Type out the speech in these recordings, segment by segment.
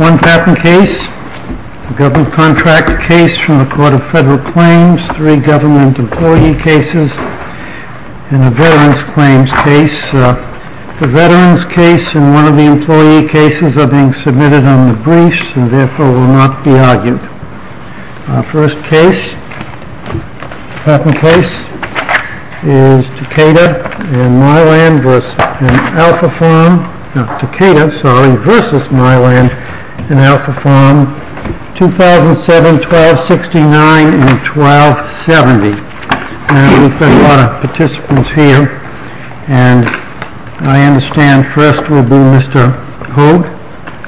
One patent case, a government contract case from the Court of Federal Claims, three government employee cases, and a veteran's claims case. The veteran's case and one of the employee cases are being submitted on the briefs and therefore will not be argued. Our first case, patent case, is Takeda v. Mylan in alpha form, 2007-1269 and 1270. We've got a lot of participants here and I understand first will be Mr. Haug.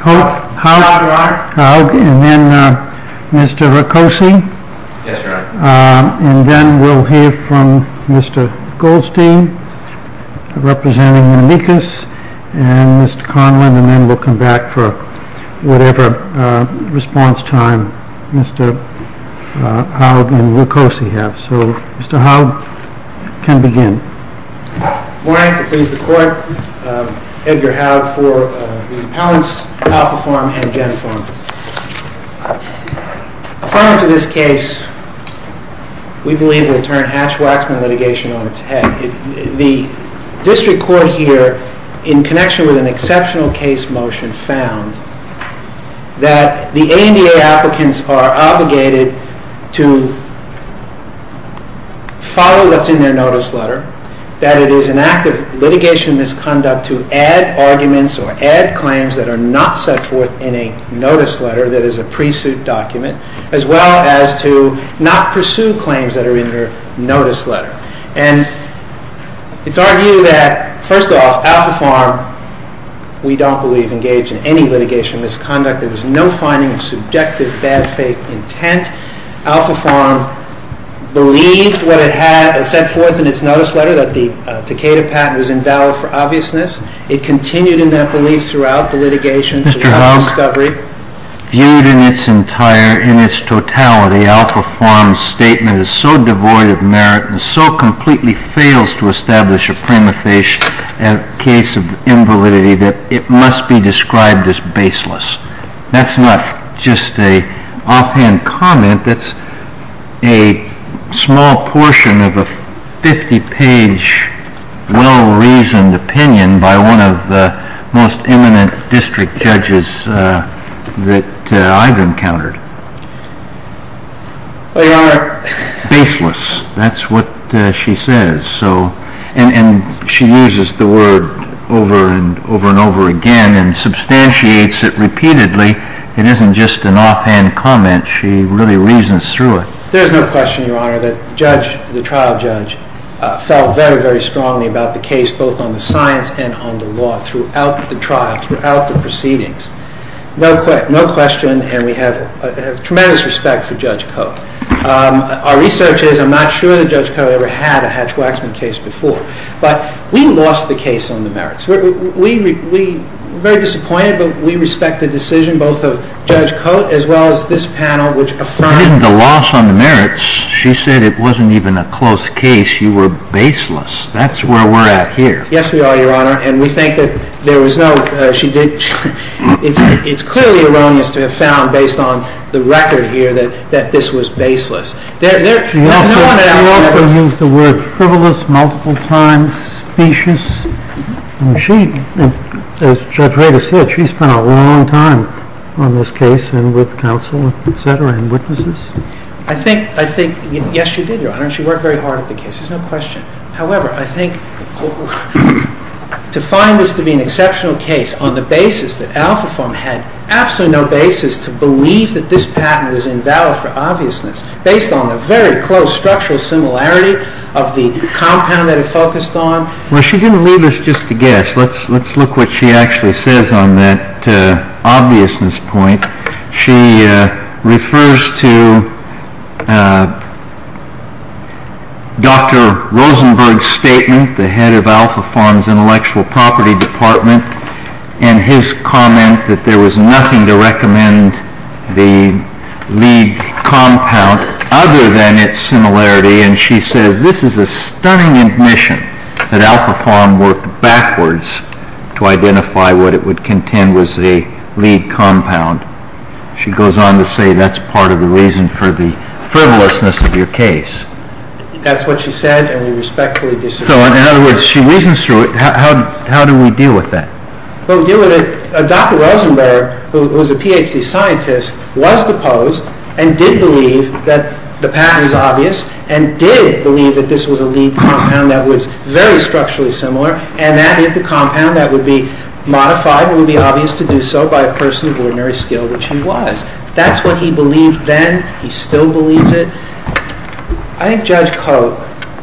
Mr. Haug and then Mr. Rucosi. And then we'll hear from Mr. Goldstein, representing Menelikis, and Mr. Conlon. And then we'll come back for whatever response time Mr. Haug and Mr. Rucosi have. So Mr. Haug can begin. I'm more than happy to please the Court, Edgar Haug, for the appellants, alpha form and gen form. Affirmance of this case, we believe, will turn Hatch-Waxman litigation on its head. The district court here, in connection with an exceptional case motion found, that the ANDA applicants are obligated to follow what's in their notice letter, that it is an act of litigation misconduct to add arguments or add claims that are not set forth in a notice letter that is a pre-suit document, as well as to not pursue claims that are in their notice letter. And it's our view that, first off, alpha form, we don't believe, engaged in any litigation misconduct. There was no finding of subjective bad faith intent. Alpha form believed what it had set forth in its notice letter, that the Takeda patent was invalid for obviousness. It continued in that belief throughout the litigation. Mr. Haug, viewed in its totality, the alpha form statement is so devoid of merit and so completely fails to establish a prima facie case of invalidity that it must be described as baseless. That's not just an offhand comment. That's a small portion of a 50-page, well-reasoned opinion by one of the most eminent district judges that I've encountered. Baseless, that's what she says. And she uses the word over and over again and substantiates it repeatedly. It isn't just an offhand comment. She really reasons through it. There's no question, Your Honor, that the trial judge felt very, very strongly about the case, both on the science and on the law, throughout the trial, throughout the proceedings. No question, and we have tremendous respect for Judge Coate. Our research is, I'm not sure that Judge Coate ever had a Hatch-Waxman case before. But we lost the case on the merits. We're very disappointed, but we respect the decision both of Judge Coate as well as this panel, which affirmed the loss on the merits. She said it wasn't even a close case. You were baseless. That's where we're at here. Yes, we are, Your Honor. And we think that there was no, she did, it's clearly erroneous to have found based on the record here that this was baseless. She also used the word frivolous multiple times, specious. And she, as Judge Rader said, she spent a long time on this case and with counsel, et cetera, and witnesses. I think, yes, she did, Your Honor. She worked very hard at the case. There's no question. However, I think to find this to be an exceptional case on the basis that Alphaform had absolutely no basis to believe that this patent was invalid for obviousness based on the very close structural similarity of the compound that it focused on. Well, she didn't leave us just to guess. Let's look what she actually says on that obviousness point. She refers to Dr. Rosenberg's statement, the head of Alphaform's intellectual property department, and his comment that there was nothing to recommend the lead compound other than its similarity. And she says this is a stunning admission that Alphaform worked backwards to identify what it would contend was a lead compound. She goes on to say that's part of the reason for the frivolousness of your case. That's what she said, and we respectfully disagree. So, in other words, she reasons through it. How do we deal with that? Well, we deal with it. Dr. Rosenberg, who is a PhD scientist, was deposed and did believe that the patent was obvious and did believe that this was a lead compound that was very structurally similar, and that is the compound that would be modified and would be obvious to do so by a person of ordinary skill, which he was. That's what he believed then. He still believes it. I think Judge Cote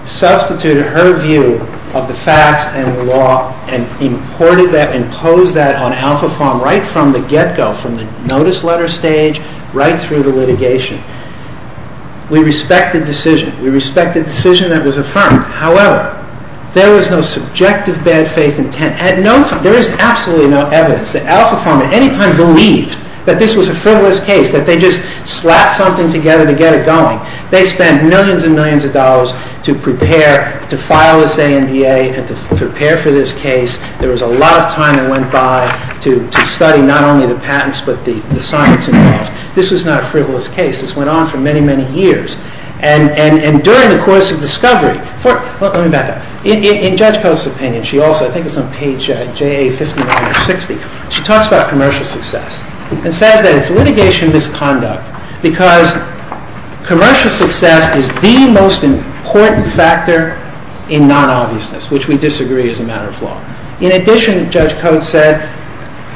substituted her view of the facts and the law and imported that, imposed that on Alphaform right from the get-go, from the notice letter stage right through the litigation. We respect the decision. We respect the decision that was affirmed. However, there was no subjective bad faith intent. There is absolutely no evidence that Alphaform at any time believed that this was a frivolous case, that they just slapped something together to get it going. They spent millions and millions of dollars to prepare, to file this ANDA and to prepare for this case. There was a lot of time that went by to study not only the patents but the science involved. This was not a frivolous case. This went on for many, many years. During the course of discovery, in Judge Cote's opinion, I think it's on page JA5960, she talks about commercial success and says that it's litigation misconduct because commercial success is the most important factor in non-obviousness, which we disagree as a matter of law. In addition, Judge Cote said,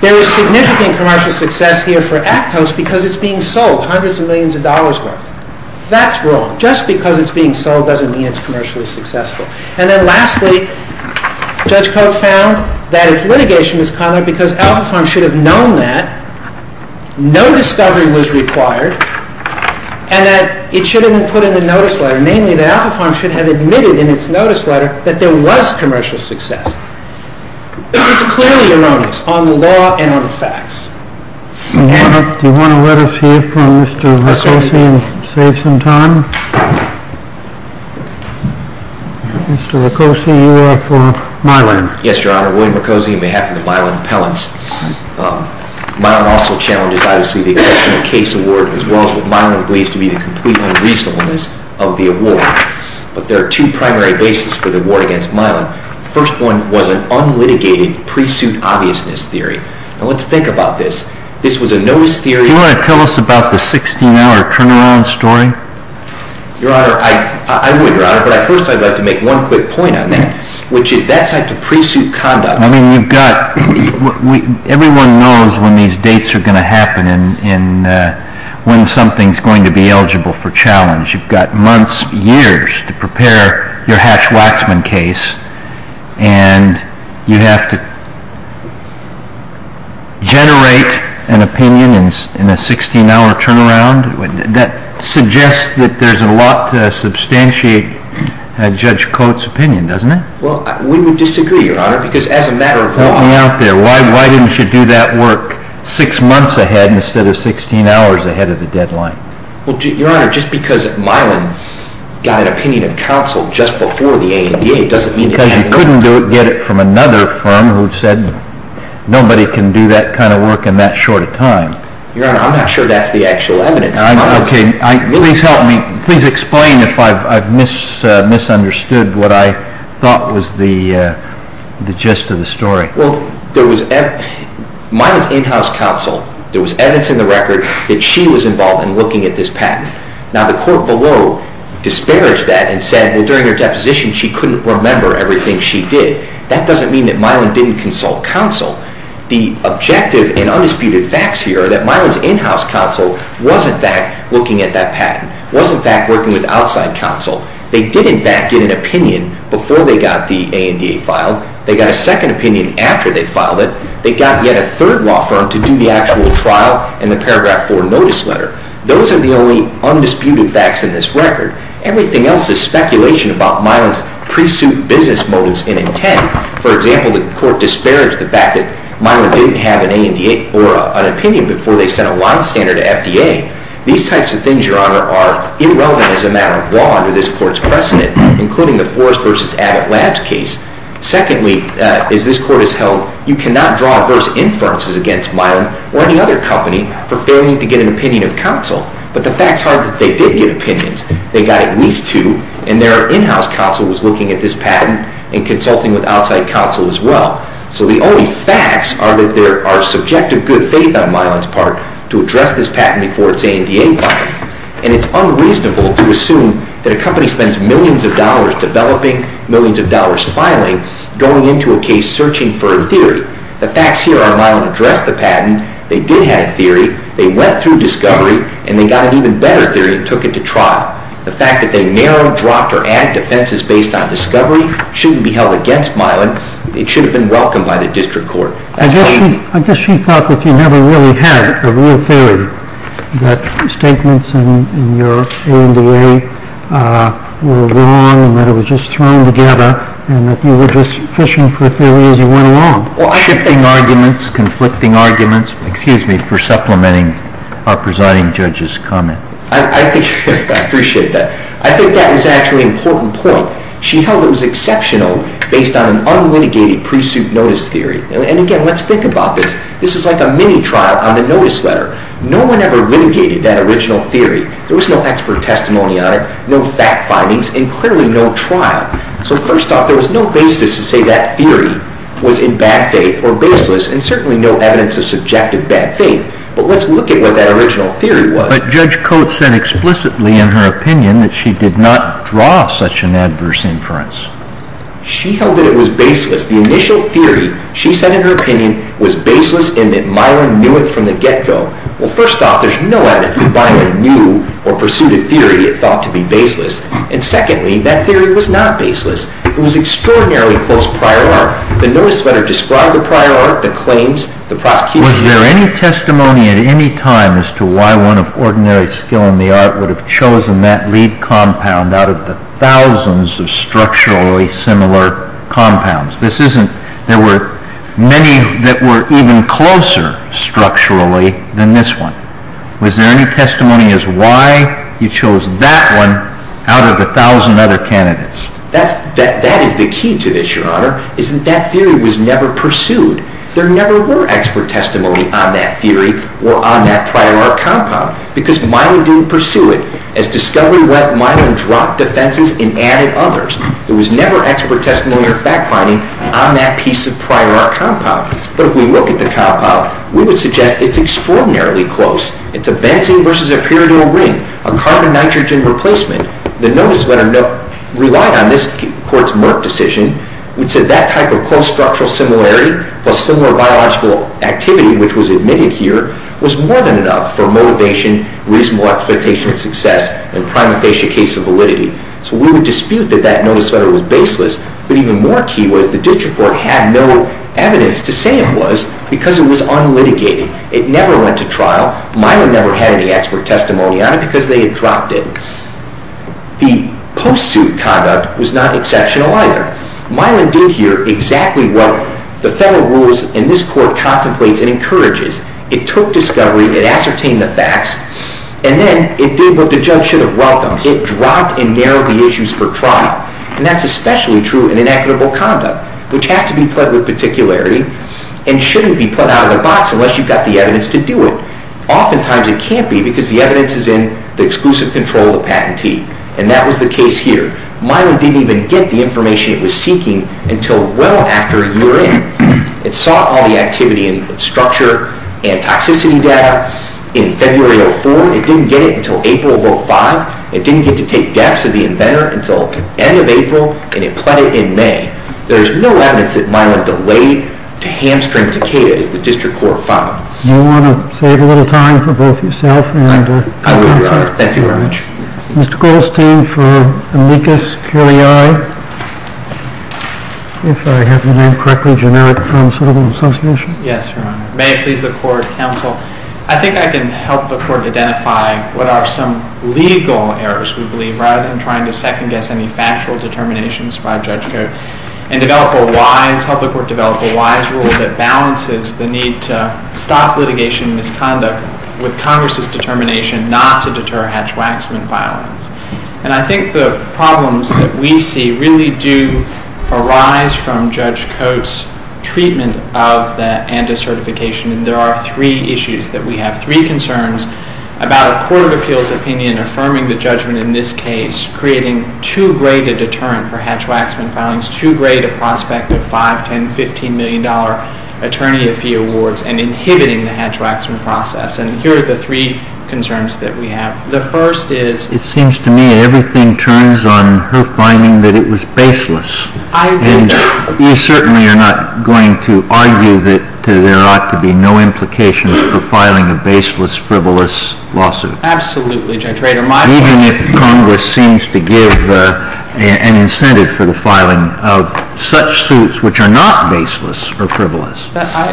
there is significant commercial success here for Actos because it's being sold, hundreds of millions of dollars worth. That's wrong. Just because it's being sold doesn't mean it's commercially successful. And then lastly, Judge Cote found that it's litigation misconduct because Alphaform should have known that, no discovery was required, and that it should have been put in the notice letter, namely that Alphaform should have admitted in its notice letter that there was commercial success. It's clearly erroneous on the law and on the facts. Do you want to let us hear from Mr. Mercosi and save some time? Mr. Mercosi, you are for Mylon. Yes, Your Honor. William Mercosi on behalf of the Mylon appellants. Mylon also challenges, obviously, the exception of case award as well as what Mylon believes to be the complete unreasonableness of the award. But there are two primary bases for the award against Mylon. The first one was an unlitigated pre-suit obviousness theory. Now, let's think about this. This was a notice theory... Do you want to tell us about the 16-hour turnaround story? Your Honor, I would, Your Honor, but first I'd like to make one quick point on that, which is that's a pre-suit conduct. I mean, you've got... Everyone knows when these dates are going to happen and when something's going to be eligible for challenge. You've got months, years to prepare your Hash-Waxman case, and you have to generate an opinion in a 16-hour turnaround. That suggests that there's a lot to substantiate Judge Coates' opinion, doesn't it? Well, we would disagree, Your Honor, because as a matter of law... Help me out there. Why didn't you do that work 6 months ahead instead of 16 hours ahead of the deadline? Well, Your Honor, just because Mylon got an opinion of counsel just before the ANDA doesn't mean it doesn't mean... Because you couldn't get it from another firm who said nobody can do that kind of work in that short a time. Your Honor, I'm not sure that's the actual evidence. Please help me. Please explain if I've misunderstood what I thought was the gist of the story. Well, there was... Mylon's in-house counsel, there was evidence in the record that she was involved in looking at this patent. Now the court below disparaged that and said, well, during her deposition she couldn't remember everything she did. That doesn't mean that Mylon didn't consult counsel. The objective and undisputed facts here are that Mylon's in-house counsel was, in fact, looking at that patent, was, in fact, working with outside counsel. They did, in fact, get an opinion before they got the ANDA filed. They got a second opinion after they filed it. They got yet a third law firm to do the actual trial in the paragraph 4 notice letter. Those are the only undisputed facts in this record. Everything else is speculation about Mylon's pre-suit business motives and intent. For example, the court disparaged the fact that Mylon didn't have an opinion before they sent a line-stander to FDA. These types of things, Your Honor, are irrelevant as a matter of law under this court's precedent, including the Forrest v. Abbott Labs case. Secondly, as this court has held, you cannot draw adverse inferences against Mylon or any other company for failing to get an opinion of counsel. But the fact's hard that they did get opinions. They got at least two, and their in-house counsel was looking at this patent and consulting with outside counsel as well. So the only facts are that there are subjective good faith on Mylon's part to address this patent before its ANDA filing. And it's unreasonable to assume that a company spends millions of dollars developing, millions of dollars filing, going into a case searching for a theory. The facts here are Mylon addressed the patent, they did have a theory, they went through discovery, and they got an even better theory and took it to trial. The fact that they narrowed, dropped, or added defenses based on discovery shouldn't be held against Mylon. It should have been welcomed by the district court. That's pain. I guess she thought that you never really had a real theory, that statements in your ANDA were wrong and that it was just thrown together and that you were just fishing for a theory as you went along. Shifting arguments, conflicting arguments. Excuse me for supplementing our presiding judge's comment. I appreciate that. I think that was actually an important point. She held it was exceptional based on an unlitigated pre-suit notice theory. And again, let's think about this. This is like a mini-trial on the notice letter. No one ever litigated that original theory. There was no expert testimony on it, no fact findings, and clearly no trial. So first off, there was no basis to say that theory was in bad faith or baseless and certainly no evidence of subjective bad faith. But let's look at what that original theory was. But Judge Coates said explicitly in her opinion that she did not draw such an adverse inference. She held that it was baseless. The initial theory, she said in her opinion, was baseless in that Mylon knew it from the get-go. Well, first off, there's no evidence that Mylon knew or pursued a theory thought to be baseless. And secondly, that theory was not baseless. It was extraordinarily close prior art. The notice letter described the prior art, the claims, the prosecution. Was there any testimony at any time as to why one of ordinary skill in the art would have chosen that lead compound out of the thousands of structurally similar compounds? There were many that were even closer structurally than this one. Was there any testimony as to why you chose that one out of the thousand other candidates? That is the key to this, Your Honor, is that that theory was never pursued. There never were expert testimony on that theory or on that prior art compound because Mylon didn't pursue it. As discovery went, Mylon dropped defenses and added others. There was never expert testimony or fact-finding on that piece of prior art compound. But if we look at the compound, we would suggest it's extraordinarily close. It's a benzene versus a pyridyl ring, a carbon-nitrogen replacement. The notice letter relied on this court's Merck decision. It said that type of close structural similarity plus similar biological activity, which was admitted here, was more than enough for motivation, reasonable expectation of success, and prima facie case of validity. So we would dispute that that notice letter was baseless. But even more key was the Ditch Report had no evidence to say it was because it was unlitigated. It never went to trial. Mylon never had any expert testimony on it because they had dropped it. The post-suit conduct was not exceptional either. Mylon did here exactly what the federal rules in this court contemplates and encourages. It took discovery, it ascertained the facts, and then it did what the judge should have welcomed. It dropped and narrowed the issues for trial. And that's especially true in inequitable conduct, which has to be put with particularity and shouldn't be put out of the box unless you've got the evidence to do it. Oftentimes it can't be because the evidence is in the exclusive control of the patentee. And that was the case here. Mylon didn't even get the information it was seeking until well after a year in. It saw all the activity in structure and toxicity data in February 2004. It didn't get it until April of 2005. It didn't get to take depths of the inventor until the end of April, and it pled it in May. There's no evidence that Mylon delayed to hamstring Takeda as the district court found. Do you want to save a little time for both yourself? I will, Your Honor. Thank you very much. Mr. Goldstein for Amicus Curiae, if I have the name correctly, Generic Custodial Association. Yes, Your Honor. May it please the court, counsel. I think I can help the court identify what are some legal errors, we believe, rather than trying to second-guess any factual determinations by Judge Coates, and help the court develop a wise rule that balances the need to stop litigation and misconduct with Congress' determination not to deter hatch-waxman violence. And I think the problems that we see really do arise from Judge Coates' treatment of that and his certification. And there are three issues that we have, three concerns about a court of appeals opinion affirming the judgment in this case, creating too great a deterrent for hatch-waxman filings, too great a prospect of $5, $10, $15 million attorney-of-fee awards, and inhibiting the hatch-waxman process. And here are the three concerns that we have. The first is... It seems to me everything turns on her finding that it was baseless. I agree, Your Honor. And you certainly are not going to argue that there ought to be no implications for filing a baseless, frivolous lawsuit. Absolutely, Judge Rader. Even if Congress seems to give an incentive for the filing of such suits which are not baseless or frivolous.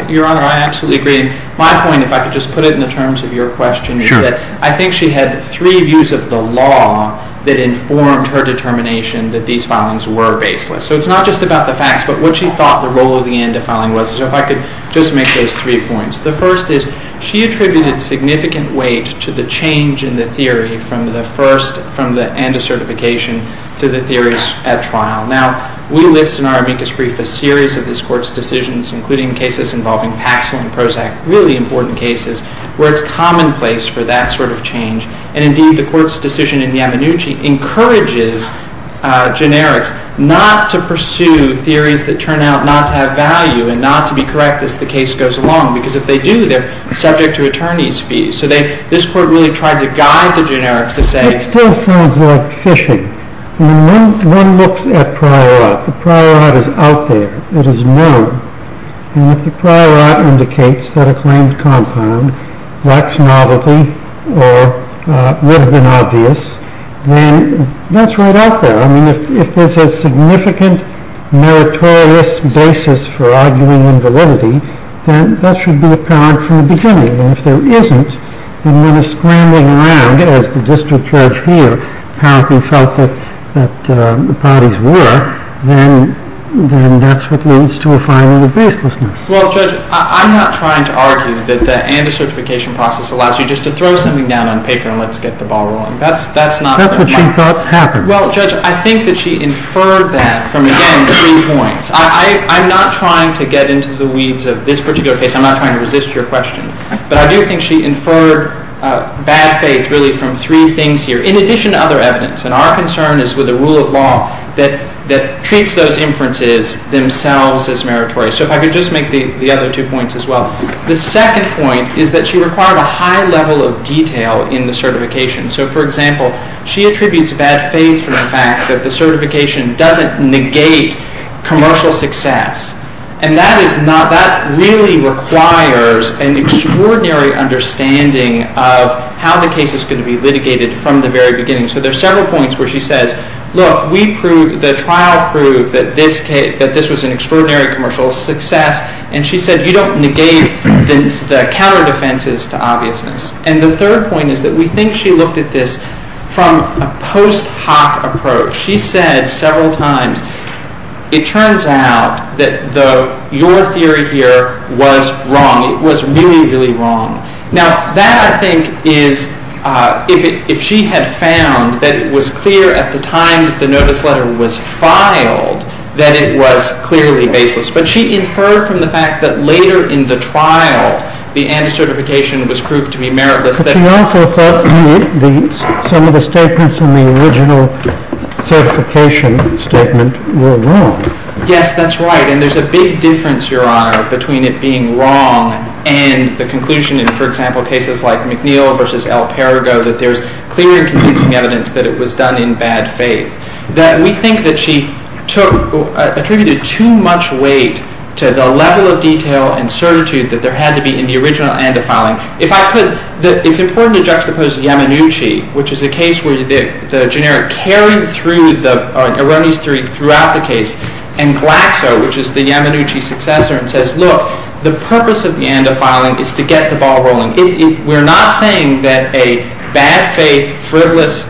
Your Honor, I absolutely agree. My point, if I could just put it in the terms of your question, is that I think she had three views of the law that informed her determination that these filings were baseless. So it's not just about the facts, but what she thought the role of the end of filing was. So if I could just make those three points. The first is she attributed significant weight to the change in the theory from the end of certification to the theories at trial. Now, we list in our amicus brief a series of this Court's decisions, including cases involving Paxil and Prozac, really important cases, where it's commonplace for that sort of change. And indeed, the Court's decision in Yamanuchi encourages generics not to pursue theories that turn out not to have value and not to be correct as the case goes along. Because if they do, they're subject to attorney's fees. So this Court really tried to guide the generics to say... It still sounds like fishing. I mean, one looks at prior art. The prior art is out there. It is known. And if the prior art indicates that a claimed compound lacks novelty or would have been obvious, then that's right out there. I mean, if there's a significant meritorious basis for arguing invalidity, then that should be apparent from the beginning. And if there isn't, and one is scrambling around, as the district judge here apparently felt that the parties were, then that's what leads to a filing of baselessness. Well, Judge, I'm not trying to argue that the anti-certification process allows you just to throw something down on paper and let's get the ball rolling. That's not what she thought happened. Well, Judge, I think that she inferred that from, again, the three points. I'm not trying to get into the weeds of this particular case. I'm not trying to resist your question. But I do think she inferred bad faith, really, from three things here, in addition to other evidence. And our concern is with the rule of law that treats those inferences themselves as meritorious. So if I could just make the other two points as well. The second point is that she required a high level of detail in the certification. So, for example, she attributes bad faith for the fact that the certification doesn't negate commercial success. And that really requires an extraordinary understanding of how the case is going to be litigated from the very beginning. So there are several points where she says, look, the trial proved that this was an extraordinary commercial success. And she said you don't negate the counter defenses to obviousness. And the third point is that we think she looked at this from a post hoc approach. She said several times, it turns out that your theory here was wrong. It was really, really wrong. Now that, I think, is if she had found that it was clear at the time that the notice letter was filed that it was clearly baseless. But she inferred from the fact that later in the trial, the anti-certification was proved to be meritless. But she also thought some of the statements in the original certification statement were wrong. Yes, that's right. And there's a big difference, Your Honor, between it being wrong and the conclusion in, for example, cases like McNeil v. El Perigo that there's clear and convincing evidence that it was done in bad faith. We think that she attributed too much weight to the level of detail and certitude that there had to be in the original and the following. If I could, it's important to juxtapose Yamanuchi, which is a case where the generic carried through the erroneous theory throughout the case, and Glaxo, which is the Yamanuchi successor, and says, look, the purpose of the ANDA filing is to get the ball rolling. We're not saying that a bad faith, frivolous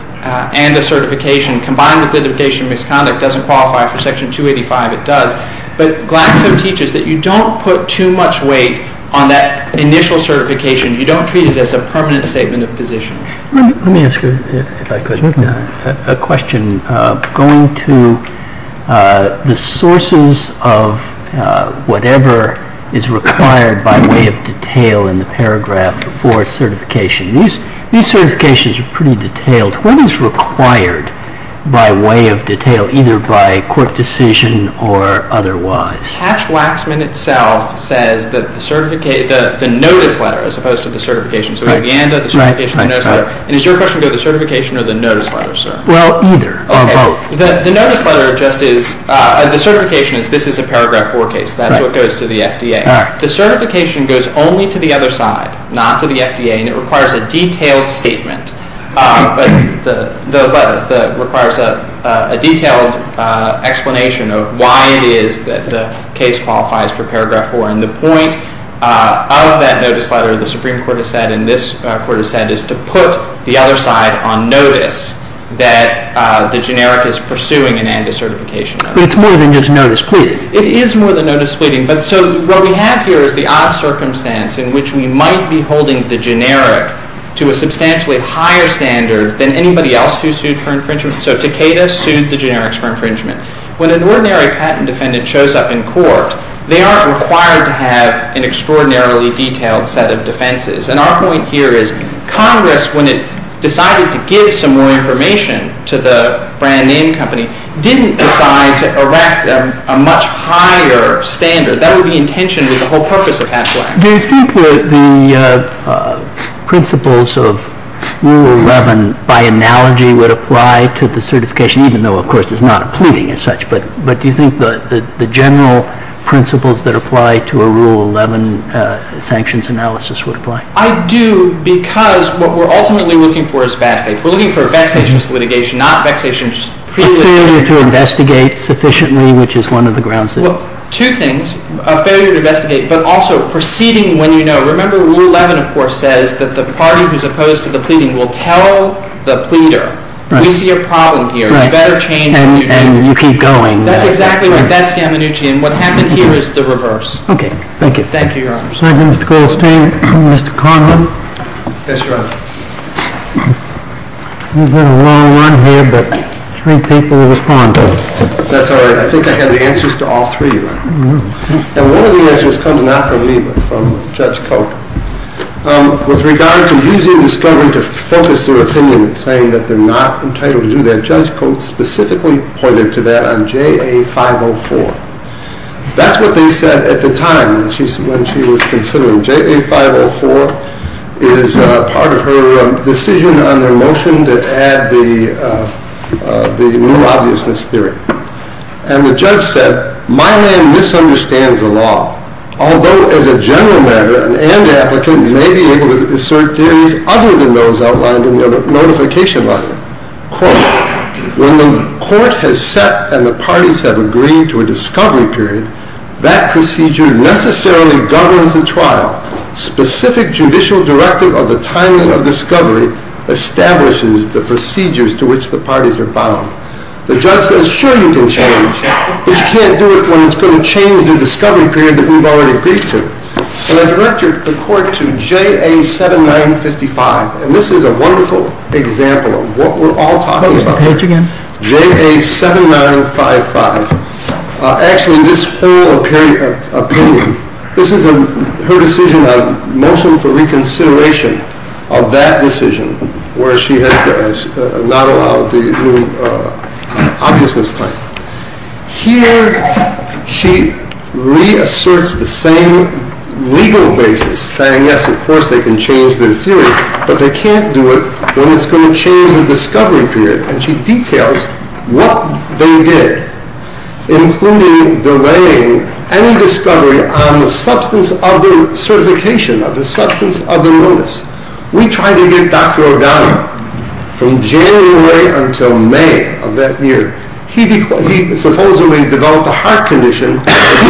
ANDA certification combined with identification of misconduct doesn't qualify for Section 285. It does. But Glaxo teaches that you don't put too much weight on that initial certification. You don't treat it as a permanent statement of position. Let me ask you, if I could, a question. Going to the sources of whatever is required by way of detail in the paragraph for certification, these certifications are pretty detailed. What is required by way of detail, either by court decision or otherwise? Hatch-Waxman itself says that the notice letter as opposed to the certification. So we have the ANDA, the certification, the notice letter. And is your question about the certification or the notice letter, sir? Well, either of both. The notice letter just is, the certification is, this is a paragraph 4 case. That's what goes to the FDA. The certification goes only to the other side, not to the FDA, and it requires a detailed statement. The letter requires a detailed explanation of why it is that the case qualifies for paragraph 4. And the point of that notice letter, the Supreme Court has said and this Court has said, is to put the other side on notice that the generic is pursuing an ANDA certification. But it's more than just notice pleading. It is more than notice pleading. But so what we have here is the odd circumstance in which we might be holding the generic to a substantially higher standard than anybody else who sued for infringement. So Takeda sued the generics for infringement. When an ordinary patent defendant shows up in court, they aren't required to have an extraordinarily detailed set of defenses. And our point here is Congress, when it decided to give some more information to the brand name company, didn't decide to erect a much higher standard. That would be intentioned with the whole purpose of Hatch-Lack. Do you think the principles of Rule 11, by analogy, would apply to the certification, even though, of course, it's not a pleading as such, but do you think the general principles that apply to a Rule 11 sanctions analysis would apply? I do because what we're ultimately looking for is bad faith. We're looking for vexatious litigation, not vexatious premeditation. A failure to investigate sufficiently, which is one of the grounds. Well, two things. A failure to investigate, but also proceeding when you know. Remember, Rule 11, of course, says that the party who's opposed to the pleading will tell the pleader, we see a problem here. You better change. And you keep going. That's exactly right. That's Gammanucci. And what happened here is the reverse. Okay. Thank you. Thank you, Your Honor. Second, Mr. Goldstein. Mr. Conlon. Yes, Your Honor. We've had a long run here, but three people have responded. That's all right. I think I have the answers to all three, Your Honor. And one of the answers comes not from me, but from Judge Cote. With regard to using discovery to focus their opinion and saying that they're not entitled to do that, Judge Cote specifically pointed to that on JA 504. That's what they said at the time when she was considering JA 504 as part of her decision on their motion to add the new obviousness theory. And the judge said, my man misunderstands the law. Although, as a general matter, an and applicant may be able to assert theories other than those outlined in their notification letter. Quote, when the court has set and the parties have agreed to a discovery period, that procedure necessarily governs the trial. Specific judicial directive of the timing of discovery establishes the procedures to which the parties are bound. The judge says, sure, you can change, but you can't do it when it's going to change the discovery period that we've already agreed to. And I directed the court to JA 7955, and this is a wonderful example of what we're all talking about here. JA 7955. Actually, this whole opinion, this is her decision on motion for reconsideration of that decision where she had not allowed the new obviousness claim. Here, she reasserts the same legal basis, saying, yes, of course they can change their theory, but they can't do it when it's going to change the discovery period. And she details what they did, including delaying any discovery on the substance of the certification, of the substance of the notice. We tried to get Dr. O'Connor from January until May of that year. He supposedly developed a heart condition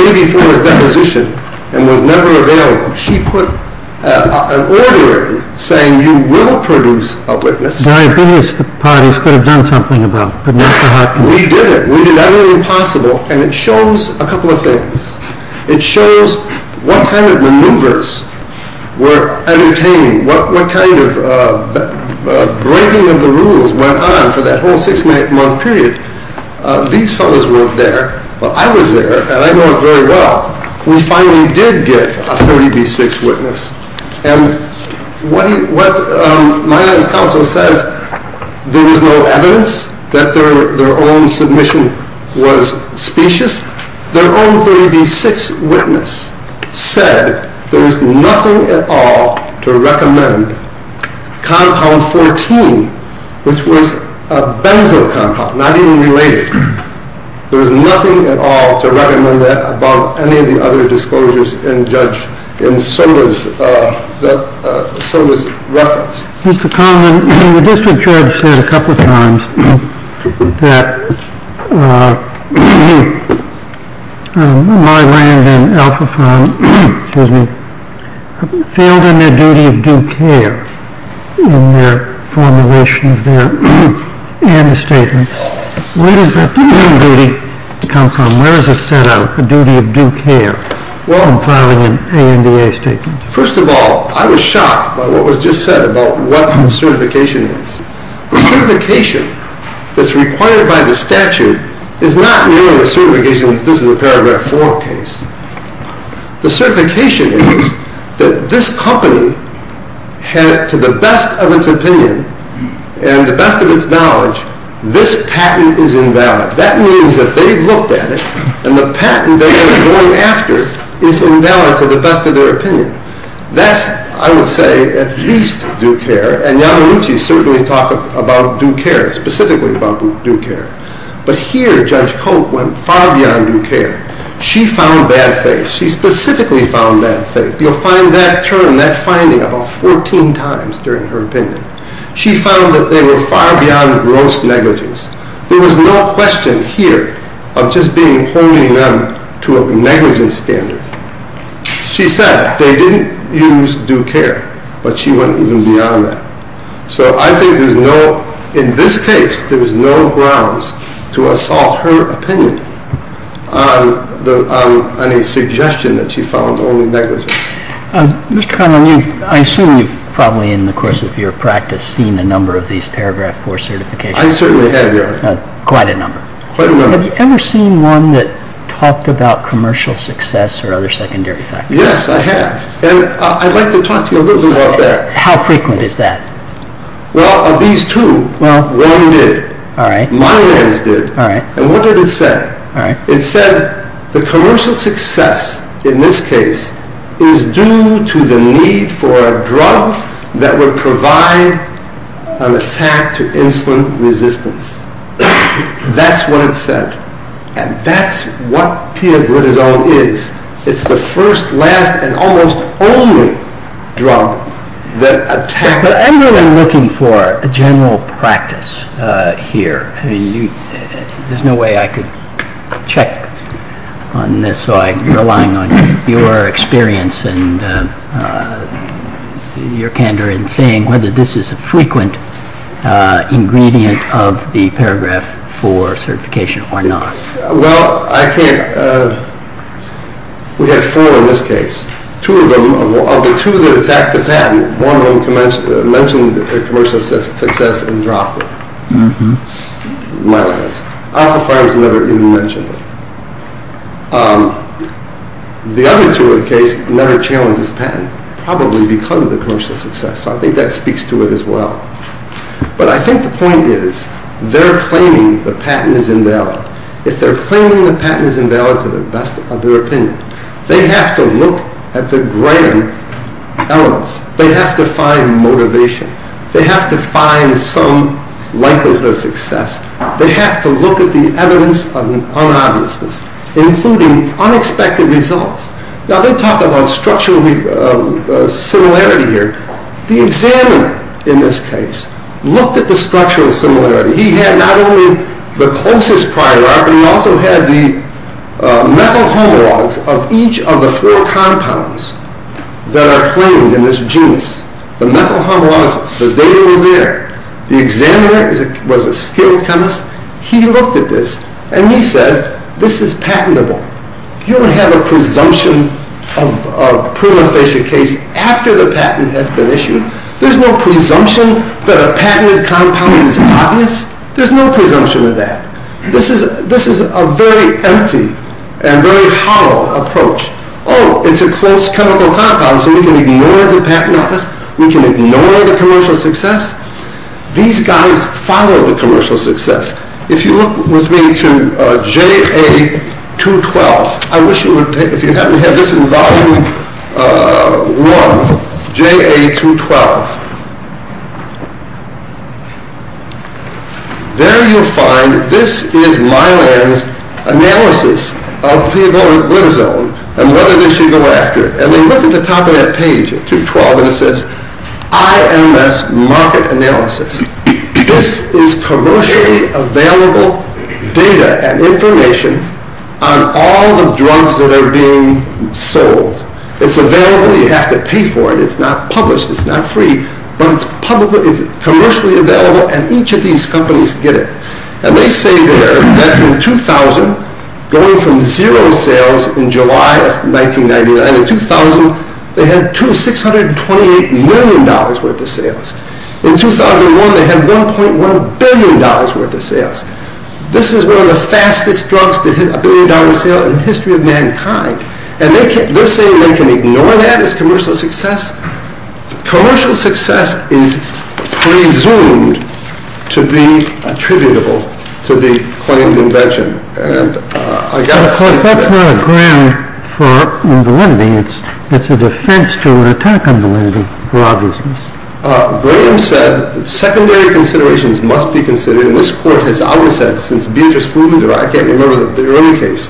maybe for his deposition and was never available. She put an order in saying, you will produce a witness. Diabetes, the parties could have done something about, but not the heart condition. We did it. We did everything possible, and it shows a couple of things. It shows what kind of maneuvers were entertained, what kind of breaking of the rules went on for that whole six-month period. These fellows weren't there, but I was there, and I know it very well. We finally did get a 30B6 witness. And what my eyes counsel says, there was no evidence that their own submission was specious. Their own 30B6 witness said there was nothing at all to recommend compound 14, which was a benzo compound, not even related. There was nothing at all to recommend that above any of the other disclosures in judge, and so was reference. Mr. Coleman, the district judge said a couple of times that Myrand and Alphaphone failed in their duty of due care in their formulation of their anti-statements. Where does that duty come from? Where is it set out, the duty of due care, in filing an ANDA statement? First of all, I was shocked by what was just said about what the certification is. The certification that's required by the statute is not merely a certification that this is a paragraph 4 case. The certification is that this company had, to the best of its opinion and the best of its knowledge, this patent is invalid. That means that they've looked at it, and the patent that they're going after is invalid to the best of their opinion. That's, I would say, at least due care, and Yamanuchi certainly talked about due care, specifically about due care. But here, Judge Cote went far beyond due care. She found bad faith. She specifically found bad faith. You'll find that term, that finding, about 14 times during her opinion. She found that they were far beyond gross negligence. There was no question here of just holding them to a negligence standard. She said they didn't use due care, but she went even beyond that. So I think there's no, in this case, there's no grounds to assault her opinion on a suggestion that she found only negligence. Mr. Conlon, I assume you've probably, in the course of your practice, seen a number of these paragraph 4 certifications. I certainly have, Your Honor. Quite a number. Quite a number. Have you ever seen one that talked about commercial success or other secondary factors? Yes, I have. And I'd like to talk to you a little bit about that. How frequent is that? Well, of these two, one did. All right. Myers did. All right. And what did it say? It said the commercial success, in this case, is due to the need for a drug that would provide an attack to insulin resistance. That's what it said. And that's what pioglitazone is. It's the first, last, and almost only drug that attacks... But I'm really looking for a general practice here. I mean, there's no way I could check on this, so I'm relying on your experience and your candor in saying whether this is a frequent ingredient of the paragraph 4 certification or not. Well, I can't... We had four in this case. Two of them... Of the two that attacked the patent, one of them mentioned the commercial success and dropped it. Mm-hmm. My lads. Alpha Pharma's never even mentioned it. The other two in the case never challenged this patent, probably because of the commercial success, so I think that speaks to it as well. But I think the point is, they're claiming the patent is invalid. If they're claiming the patent is invalid, to the best of their opinion, they have to look at the grand elements. They have to find motivation. They have to find some likelihood of success. They have to look at the evidence of an unobviousness. Including unexpected results. Now, they talk about structural similarity here. The examiner, in this case, looked at the structural similarity. He had not only the closest prior art, but he also had the methyl homologs of each of the four compounds that are claimed in this genus. The methyl homologs, the data was there. The examiner was a skilled chemist. He looked at this, and he said, this is patentable. You don't have a presumption of prima facie case after the patent has been issued. There's no presumption that a patented compound is obvious. There's no presumption of that. This is a very empty and very hollow approach. Oh, it's a close chemical compound, so we can ignore the patent office. We can ignore the commercial success. These guys follow the commercial success. If you look with me to JA212, I wish you would take, if you haven't had this in volume one, JA212. There you'll find, this is Mylan's analysis of P-glitazone and whether they should go after it. And they look at the top of that page at 212, and it says, IMS market analysis. This is commercially available data and information on all the drugs that are being sold. It's available. You have to pay for it. It's not published. It's not free. But it's commercially available, and each of these companies get it. And they say there that in 2000, going from zero sales in July of 1999 to 2000, they had $628 million worth of sales. In 2001, they had $1.1 billion worth of sales. This is one of the fastest drugs to hit a billion-dollar sale in the history of mankind. And they're saying they can ignore that as commercial success? Commercial success is presumed to be attributable to the claimed invention. And I got to say... But that's not a ground for validity. It's a defense to an attack on validity for obvious reasons. Graham said secondary considerations must be considered, and this court has always said since Beatrice Fudin's or I can't remember the early case.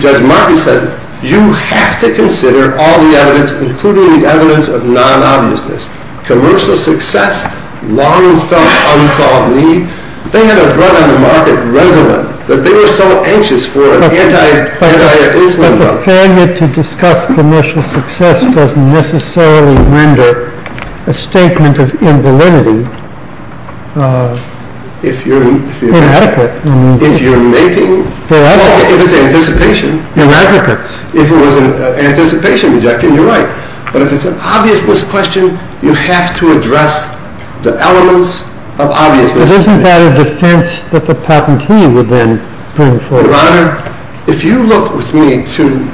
Judge Markey said you have to consider all the evidence, including the evidence of non-obviousness. Commercial success, long-felt unsolved need. They had a drug on the market, Rezulin, but they were so anxious for an anti-insulin drug. But the failure to discuss commercial success doesn't necessarily render a statement of invalidity inadequate. If you're making... Inadequate. If it's anticipation... Inadequate. If it was an anticipation objection, you're right. But if it's an obviousness question, you have to address the elements of obviousness. But isn't that a defense that the patentee would then bring forward? Your Honor, if you look with me to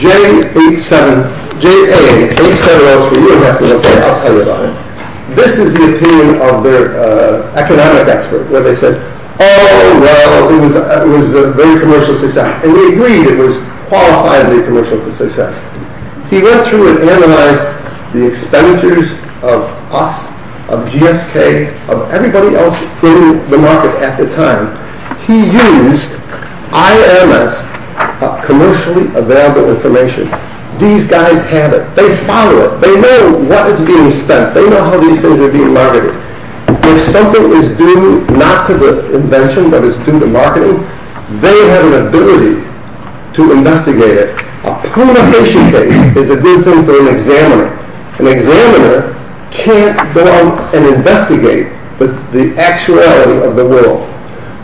J87... JA8703, you have to look it up, I live on it. This is the opinion of their economic expert, where they said, oh, well, it was a very commercial success. And they agreed it was qualifiably commercial success. He went through and analyzed the expenditures of us, of GSK, of everybody else in the market at the time. He used IMS, commercially available information. These guys have it. They follow it. They know what is being spent. They know how these things are being marketed. If something is due not to the invention but is due to marketing, they have an ability to investigate it. A proliferation case is a good thing for an examiner. An examiner can't go out and investigate the actuality of the world.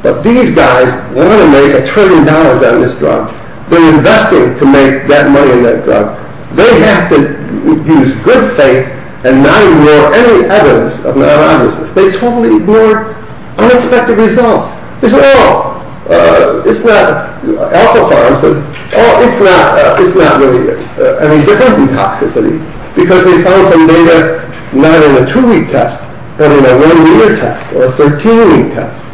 But these guys want to make a trillion dollars on this drug. They're investing to make that money on that drug. They have to use good faith and not ignore any evidence of non-obviousness. They totally ignore unexpected results. Alpha farms, it's not really any different in toxicity, because they found some data not in a two-week test, but in a one-year test or a 13-week test.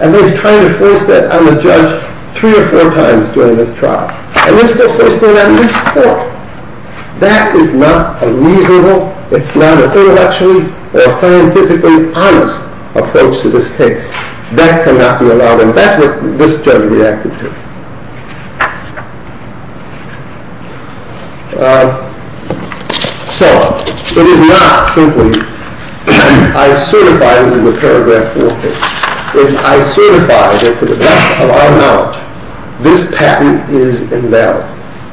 And they've tried to force that on the judge three or four times during this trial. And they're still forcing it on at least four. That is not a reasonable, it's not an intellectually or scientifically honest approach to this case. That cannot be allowed, and that's what this judge reacted to. So, it is not simply, I certify this is a paragraph four case. If I certify that to the best of our knowledge, this patent is invalid.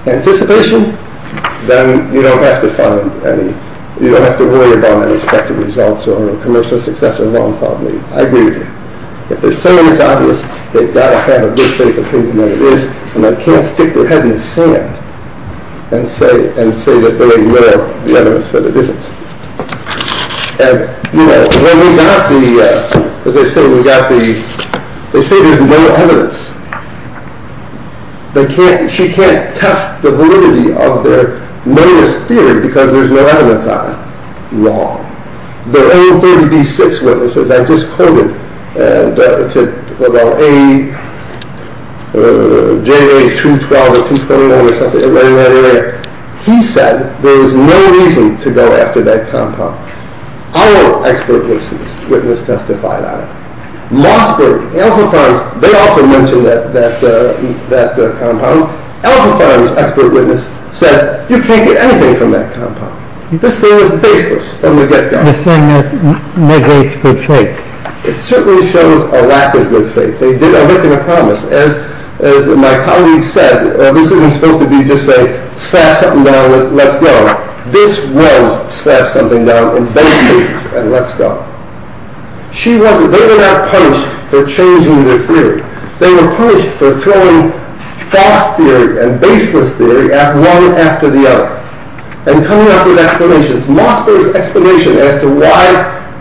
Anticipation, then you don't have to worry about unexpected results or commercial success or wrongfully. I agree with you. If they're saying it's obvious, they've got to have a good faith opinion that it is. And they can't stick their head in the sand and say that they ignore the evidence that it isn't. They say there's no evidence. She can't test the validity of their latest theory because there's no evidence on it. Wrong. There are only 36 witnesses. I just quoted, and it said, well, A, J, 212, or 229, or something. He said there is no reason to go after that compound. Our expert witness testified on it. Mossberg, Alpha Pharm, they often mention that compound. Alpha Pharm's expert witness said, you can't get anything from that compound. This thing was baseless from the get-go. You're saying that negates good faith. It certainly shows a lack of good faith. They did a look and a promise. As my colleague said, this isn't supposed to be just say, slap something down, let's go. This was slap something down in many cases and let's go. She wasn't. They were not punished for changing their theory. They were punished for throwing false theory and baseless theory at one after the other and coming up with explanations. Mossberg's explanation as to why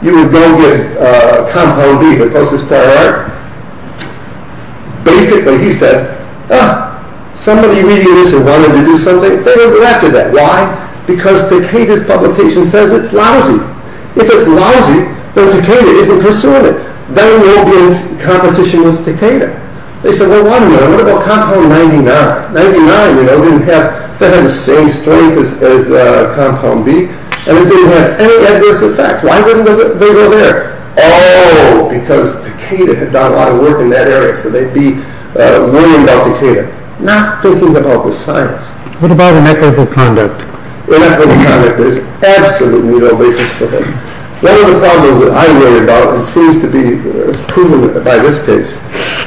you would go get compound B, the closest prior art, basically he said, somebody reading this and wanted to do something, they don't go after that. Why? Because Takeda's publication says it's lousy. If it's lousy, then Takeda isn't pursuing it. Then there will be competition with Takeda. They said, well, what about compound 99? 99 didn't have the same strength as compound B, and it didn't have any adverse effects. Why wouldn't they go there? Oh, because Takeda had done a lot of work in that area, so they'd be worrying about Takeda, not thinking about the science. What about inequitable conduct? Inequitable conduct is absolutely no basis for them. One of the problems that I worry about and seems to be proven by this case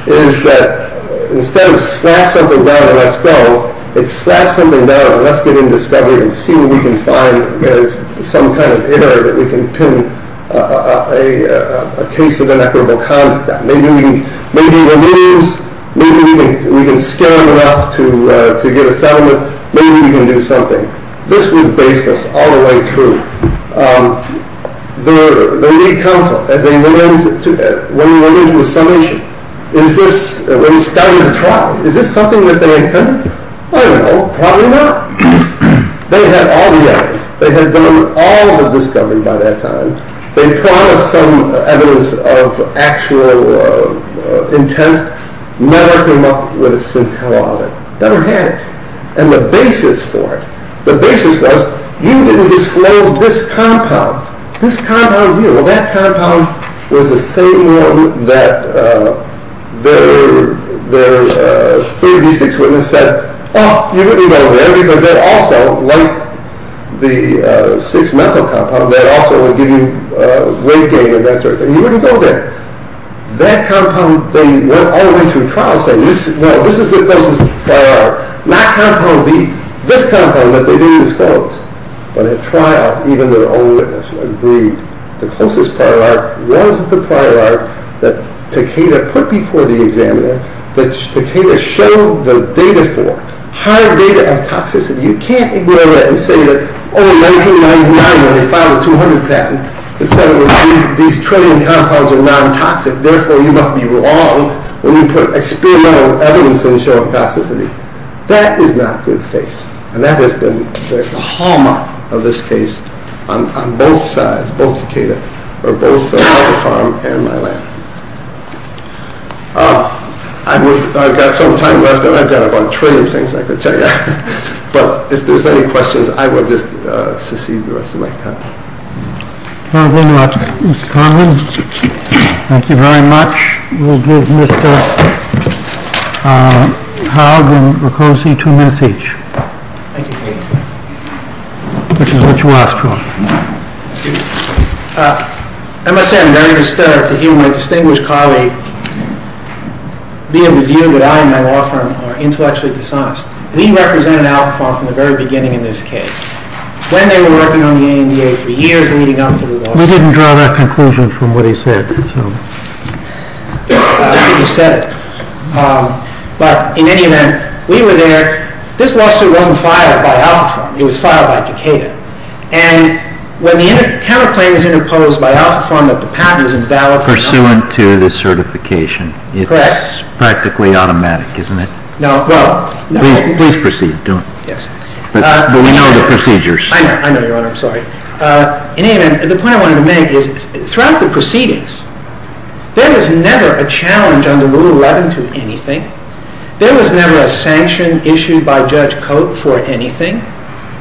is that instead of slap something down and let's go, it's slap something down and let's get in discovery and see what we can find. There's some kind of error that we can pin a case of inequitable conduct. Maybe we can scale it enough to get a settlement. Maybe we can do something. This was basis all the way through. The League Council, when we went into the summation, when we started to try, is this something that they intended? I don't know. Probably not. They had all the evidence. They had done all the discovery by that time. They promised some evidence of actual intent. Never came up with a scintilla of it. Never had it. And the basis for it, the basis was, you didn't disclose this compound, this compound here. Well, that compound was the same one that their 3B6 witness said, oh, you wouldn't go there because that also, like the 6-methyl compound, that also would give you weight gain and that sort of thing. You wouldn't go there. That compound, they went all the way through trial saying, no, this is the closest prior, not compound B, this compound that they didn't disclose. But at trial, even their own witness agreed. The closest prior was the prior that Takeda put before the examiner that Takeda showed the data for, hard data of toxicity. You can't ignore that and say that, oh, in 1999 when they filed the 200 patent, it said these training compounds are non-toxic, therefore you must be wrong when you put experimental evidence in showing toxicity. That is not good faith. And that has been the hallmark of this case on both sides, both Takeda, or both Alpha Pharm and my lab. I've got some time left and I've got about a trillion things I could tell you. But if there's any questions, I will just secede the rest of my time. Thank you very much, Mr. Conlon. Thank you very much. We'll give Mr. Haug and Riccosi two minutes each. Thank you. Which is what you asked for. I must say I'm very disturbed to hear my distinguished colleague be of the view that I and my law firm are intellectually dishonest. We represented Alpha Pharm from the very beginning in this case. When they were working on the ANDA for years leading up to the lawsuit. We didn't draw that conclusion from what he said. I think he said it. But in any event, we were there. This lawsuit wasn't filed by Alpha Pharm. It was filed by Takeda. And when the counterclaim was interposed by Alpha Pharm, that the patent was invalid for a number of years. Pursuant to the certification. Correct. It's practically automatic, isn't it? No. Please proceed. But we know the procedures. I know, Your Honor. I'm sorry. In any event, the point I wanted to make is, throughout the proceedings, there was never a challenge under Rule 11 to anything. There was never a sanction issued by Judge Cote for anything.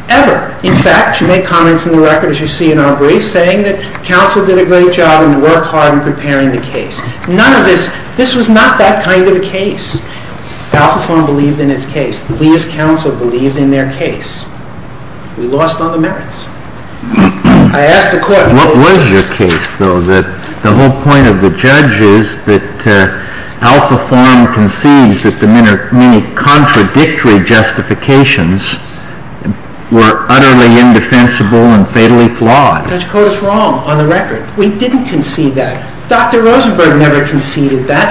Ever. In fact, you make comments in the record, as you see in our brief, saying that counsel did a great job in work hard in preparing the case. None of this. This was not that kind of a case. Alpha Pharm believed in its case. We as counsel believed in their case. We lost on the merits. I asked the court. What was your case, though, that the whole point of the judge is that Alpha Pharm concedes that the many contradictory justifications were utterly indefensible and fatally flawed? Judge Cote is wrong on the record. We didn't concede that. Dr. Rosenberg never conceded that.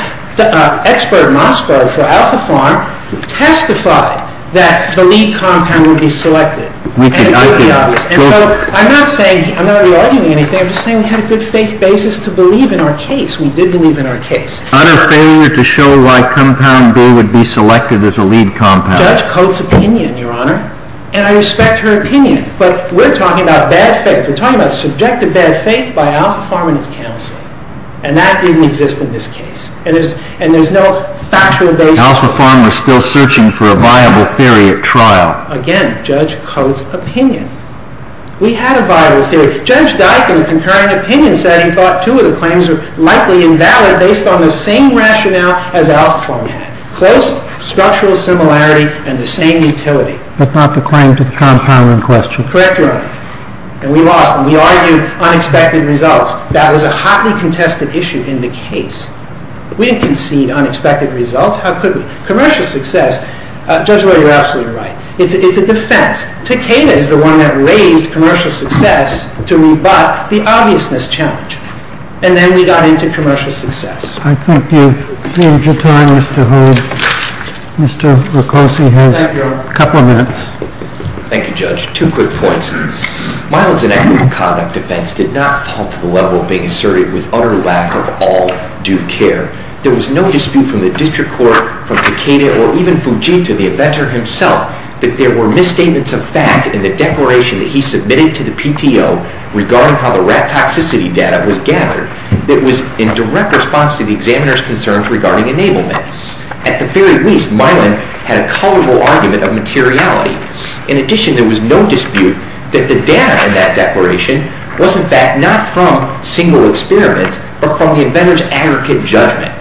Expert Mossberg for Alpha Pharm testified that the lead compound would be selected. And it's pretty obvious. And so I'm not saying, I'm not re-arguing anything. I'm just saying we had a good faith basis to believe in our case. We did believe in our case. Utter failure to show why compound B would be selected as a lead compound. Judge Cote's opinion, Your Honor. And I respect her opinion. But we're talking about bad faith. We're talking about subjective bad faith by Alpha Pharm and its counsel. And that didn't exist in this case. And there's no factual basis. Alpha Pharm was still searching for a viable theory at trial. Again, Judge Cote's opinion. We had a viable theory. Judge Dyke, in a concurring opinion setting, thought two of the claims were likely invalid based on the same rationale as Alpha Pharm had. Close structural similarity and the same utility. But not the claim to the compound in question. Correct, Your Honor. And we lost. And we argued unexpected results. That was a hotly contested issue in the case. We didn't concede unexpected results. How could we? Commercial success. Judge Roy, you're absolutely right. It's a defense. Takeda is the one that raised commercial success to rebut the obviousness challenge. And then we got into commercial success. I think you've saved your time, Mr. Holt. Mr. Riccosi has a couple of minutes. Thank you, Judge. Two quick points. Mylon's inequitable conduct defense did not fall to the level of being asserted with utter lack of all due care. There was no dispute from the district court, from Takeda, or even Fujita, the inventor himself, that there were misstatements of fact in the declaration that he submitted to the PTO regarding how the rat toxicity data was gathered that was in direct response to the examiner's concerns regarding enablement. At the very least, Mylon had a colorable argument of materiality. In addition, there was no dispute that the data in that declaration was, in fact, not from single experiments, but from the inventor's aggregate judgment.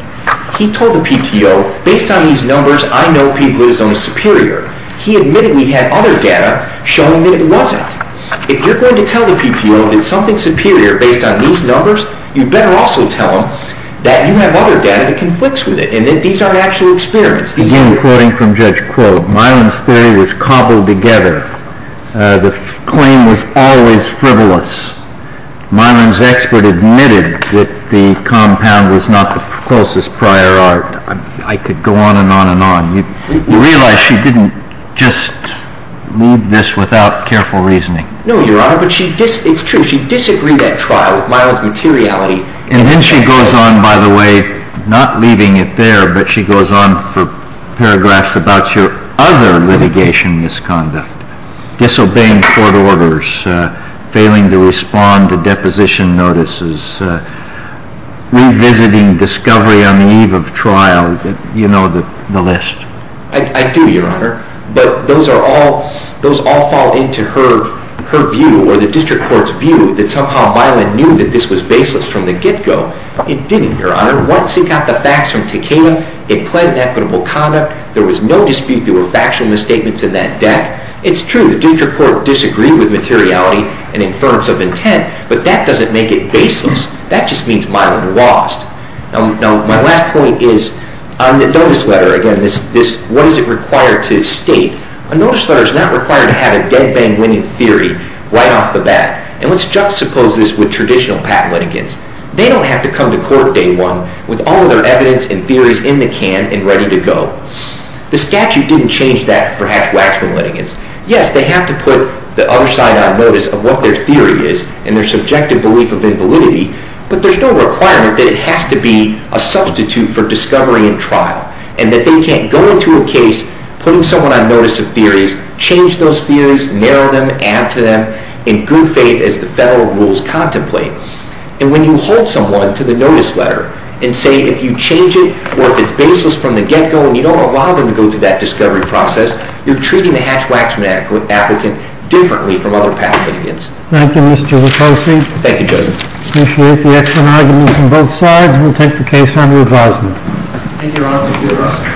He told the PTO, based on these numbers, I know p-glutazone is superior. He admittedly had other data showing that it wasn't. If you're going to tell the PTO that something's superior based on these numbers, you'd better also tell them that you have other data that conflicts with it and that these aren't actual experiments. Let me begin quoting from Judge Quill. Mylon's theory was cobbled together. The claim was always frivolous. Mylon's expert admitted that the compound was not the closest prior art. I could go on and on and on. You realize she didn't just leave this without careful reasoning. No, Your Honor, but it's true. She disagreed at trial with Mylon's materiality. And then she goes on, by the way, not leaving it there, but she goes on for paragraphs about your other litigation misconduct, disobeying court orders, failing to respond to deposition notices, revisiting discovery on the eve of trial. You know the list. I do, Your Honor. But those all fall into her view or the district court's view that somehow Mylon knew that this was baseless from the get-go. It didn't, Your Honor. Once it got the facts from Takeda, it pled in equitable conduct. There was no dispute. There were factual misstatements in that deck. It's true. The district court disagreed with materiality and inference of intent, but that doesn't make it baseless. That just means Mylon lost. Now, my last point is on the notice letter. Again, what is it required to state? A notice letter is not required to have a dead-bang winning theory right off the bat. And let's juxtapose this with traditional patent litigants. They don't have to come to court day one with all of their evidence and theories in the can and ready to go. The statute didn't change that for Hatch-Waxman litigants. Yes, they have to put the other side on notice of what their theory is and their subjective belief of invalidity, but there's no requirement that it has to be a substitute for discovery in trial and that they can't go into a case putting someone on notice of theories, change those theories, narrow them, add to them, in good faith as the federal rules contemplate. And when you hold someone to the notice letter and say, if you change it or if it's baseless from the get-go and you don't allow them to go to that discovery process, you're treating the Hatch-Waxman applicant differently from other patent litigants. Thank you, Mr. Wachowski. Thank you, Judge. I appreciate the excellent arguments on both sides. We'll take the case under advisement. Thank you, Your Honor. Thank you, Your Honor.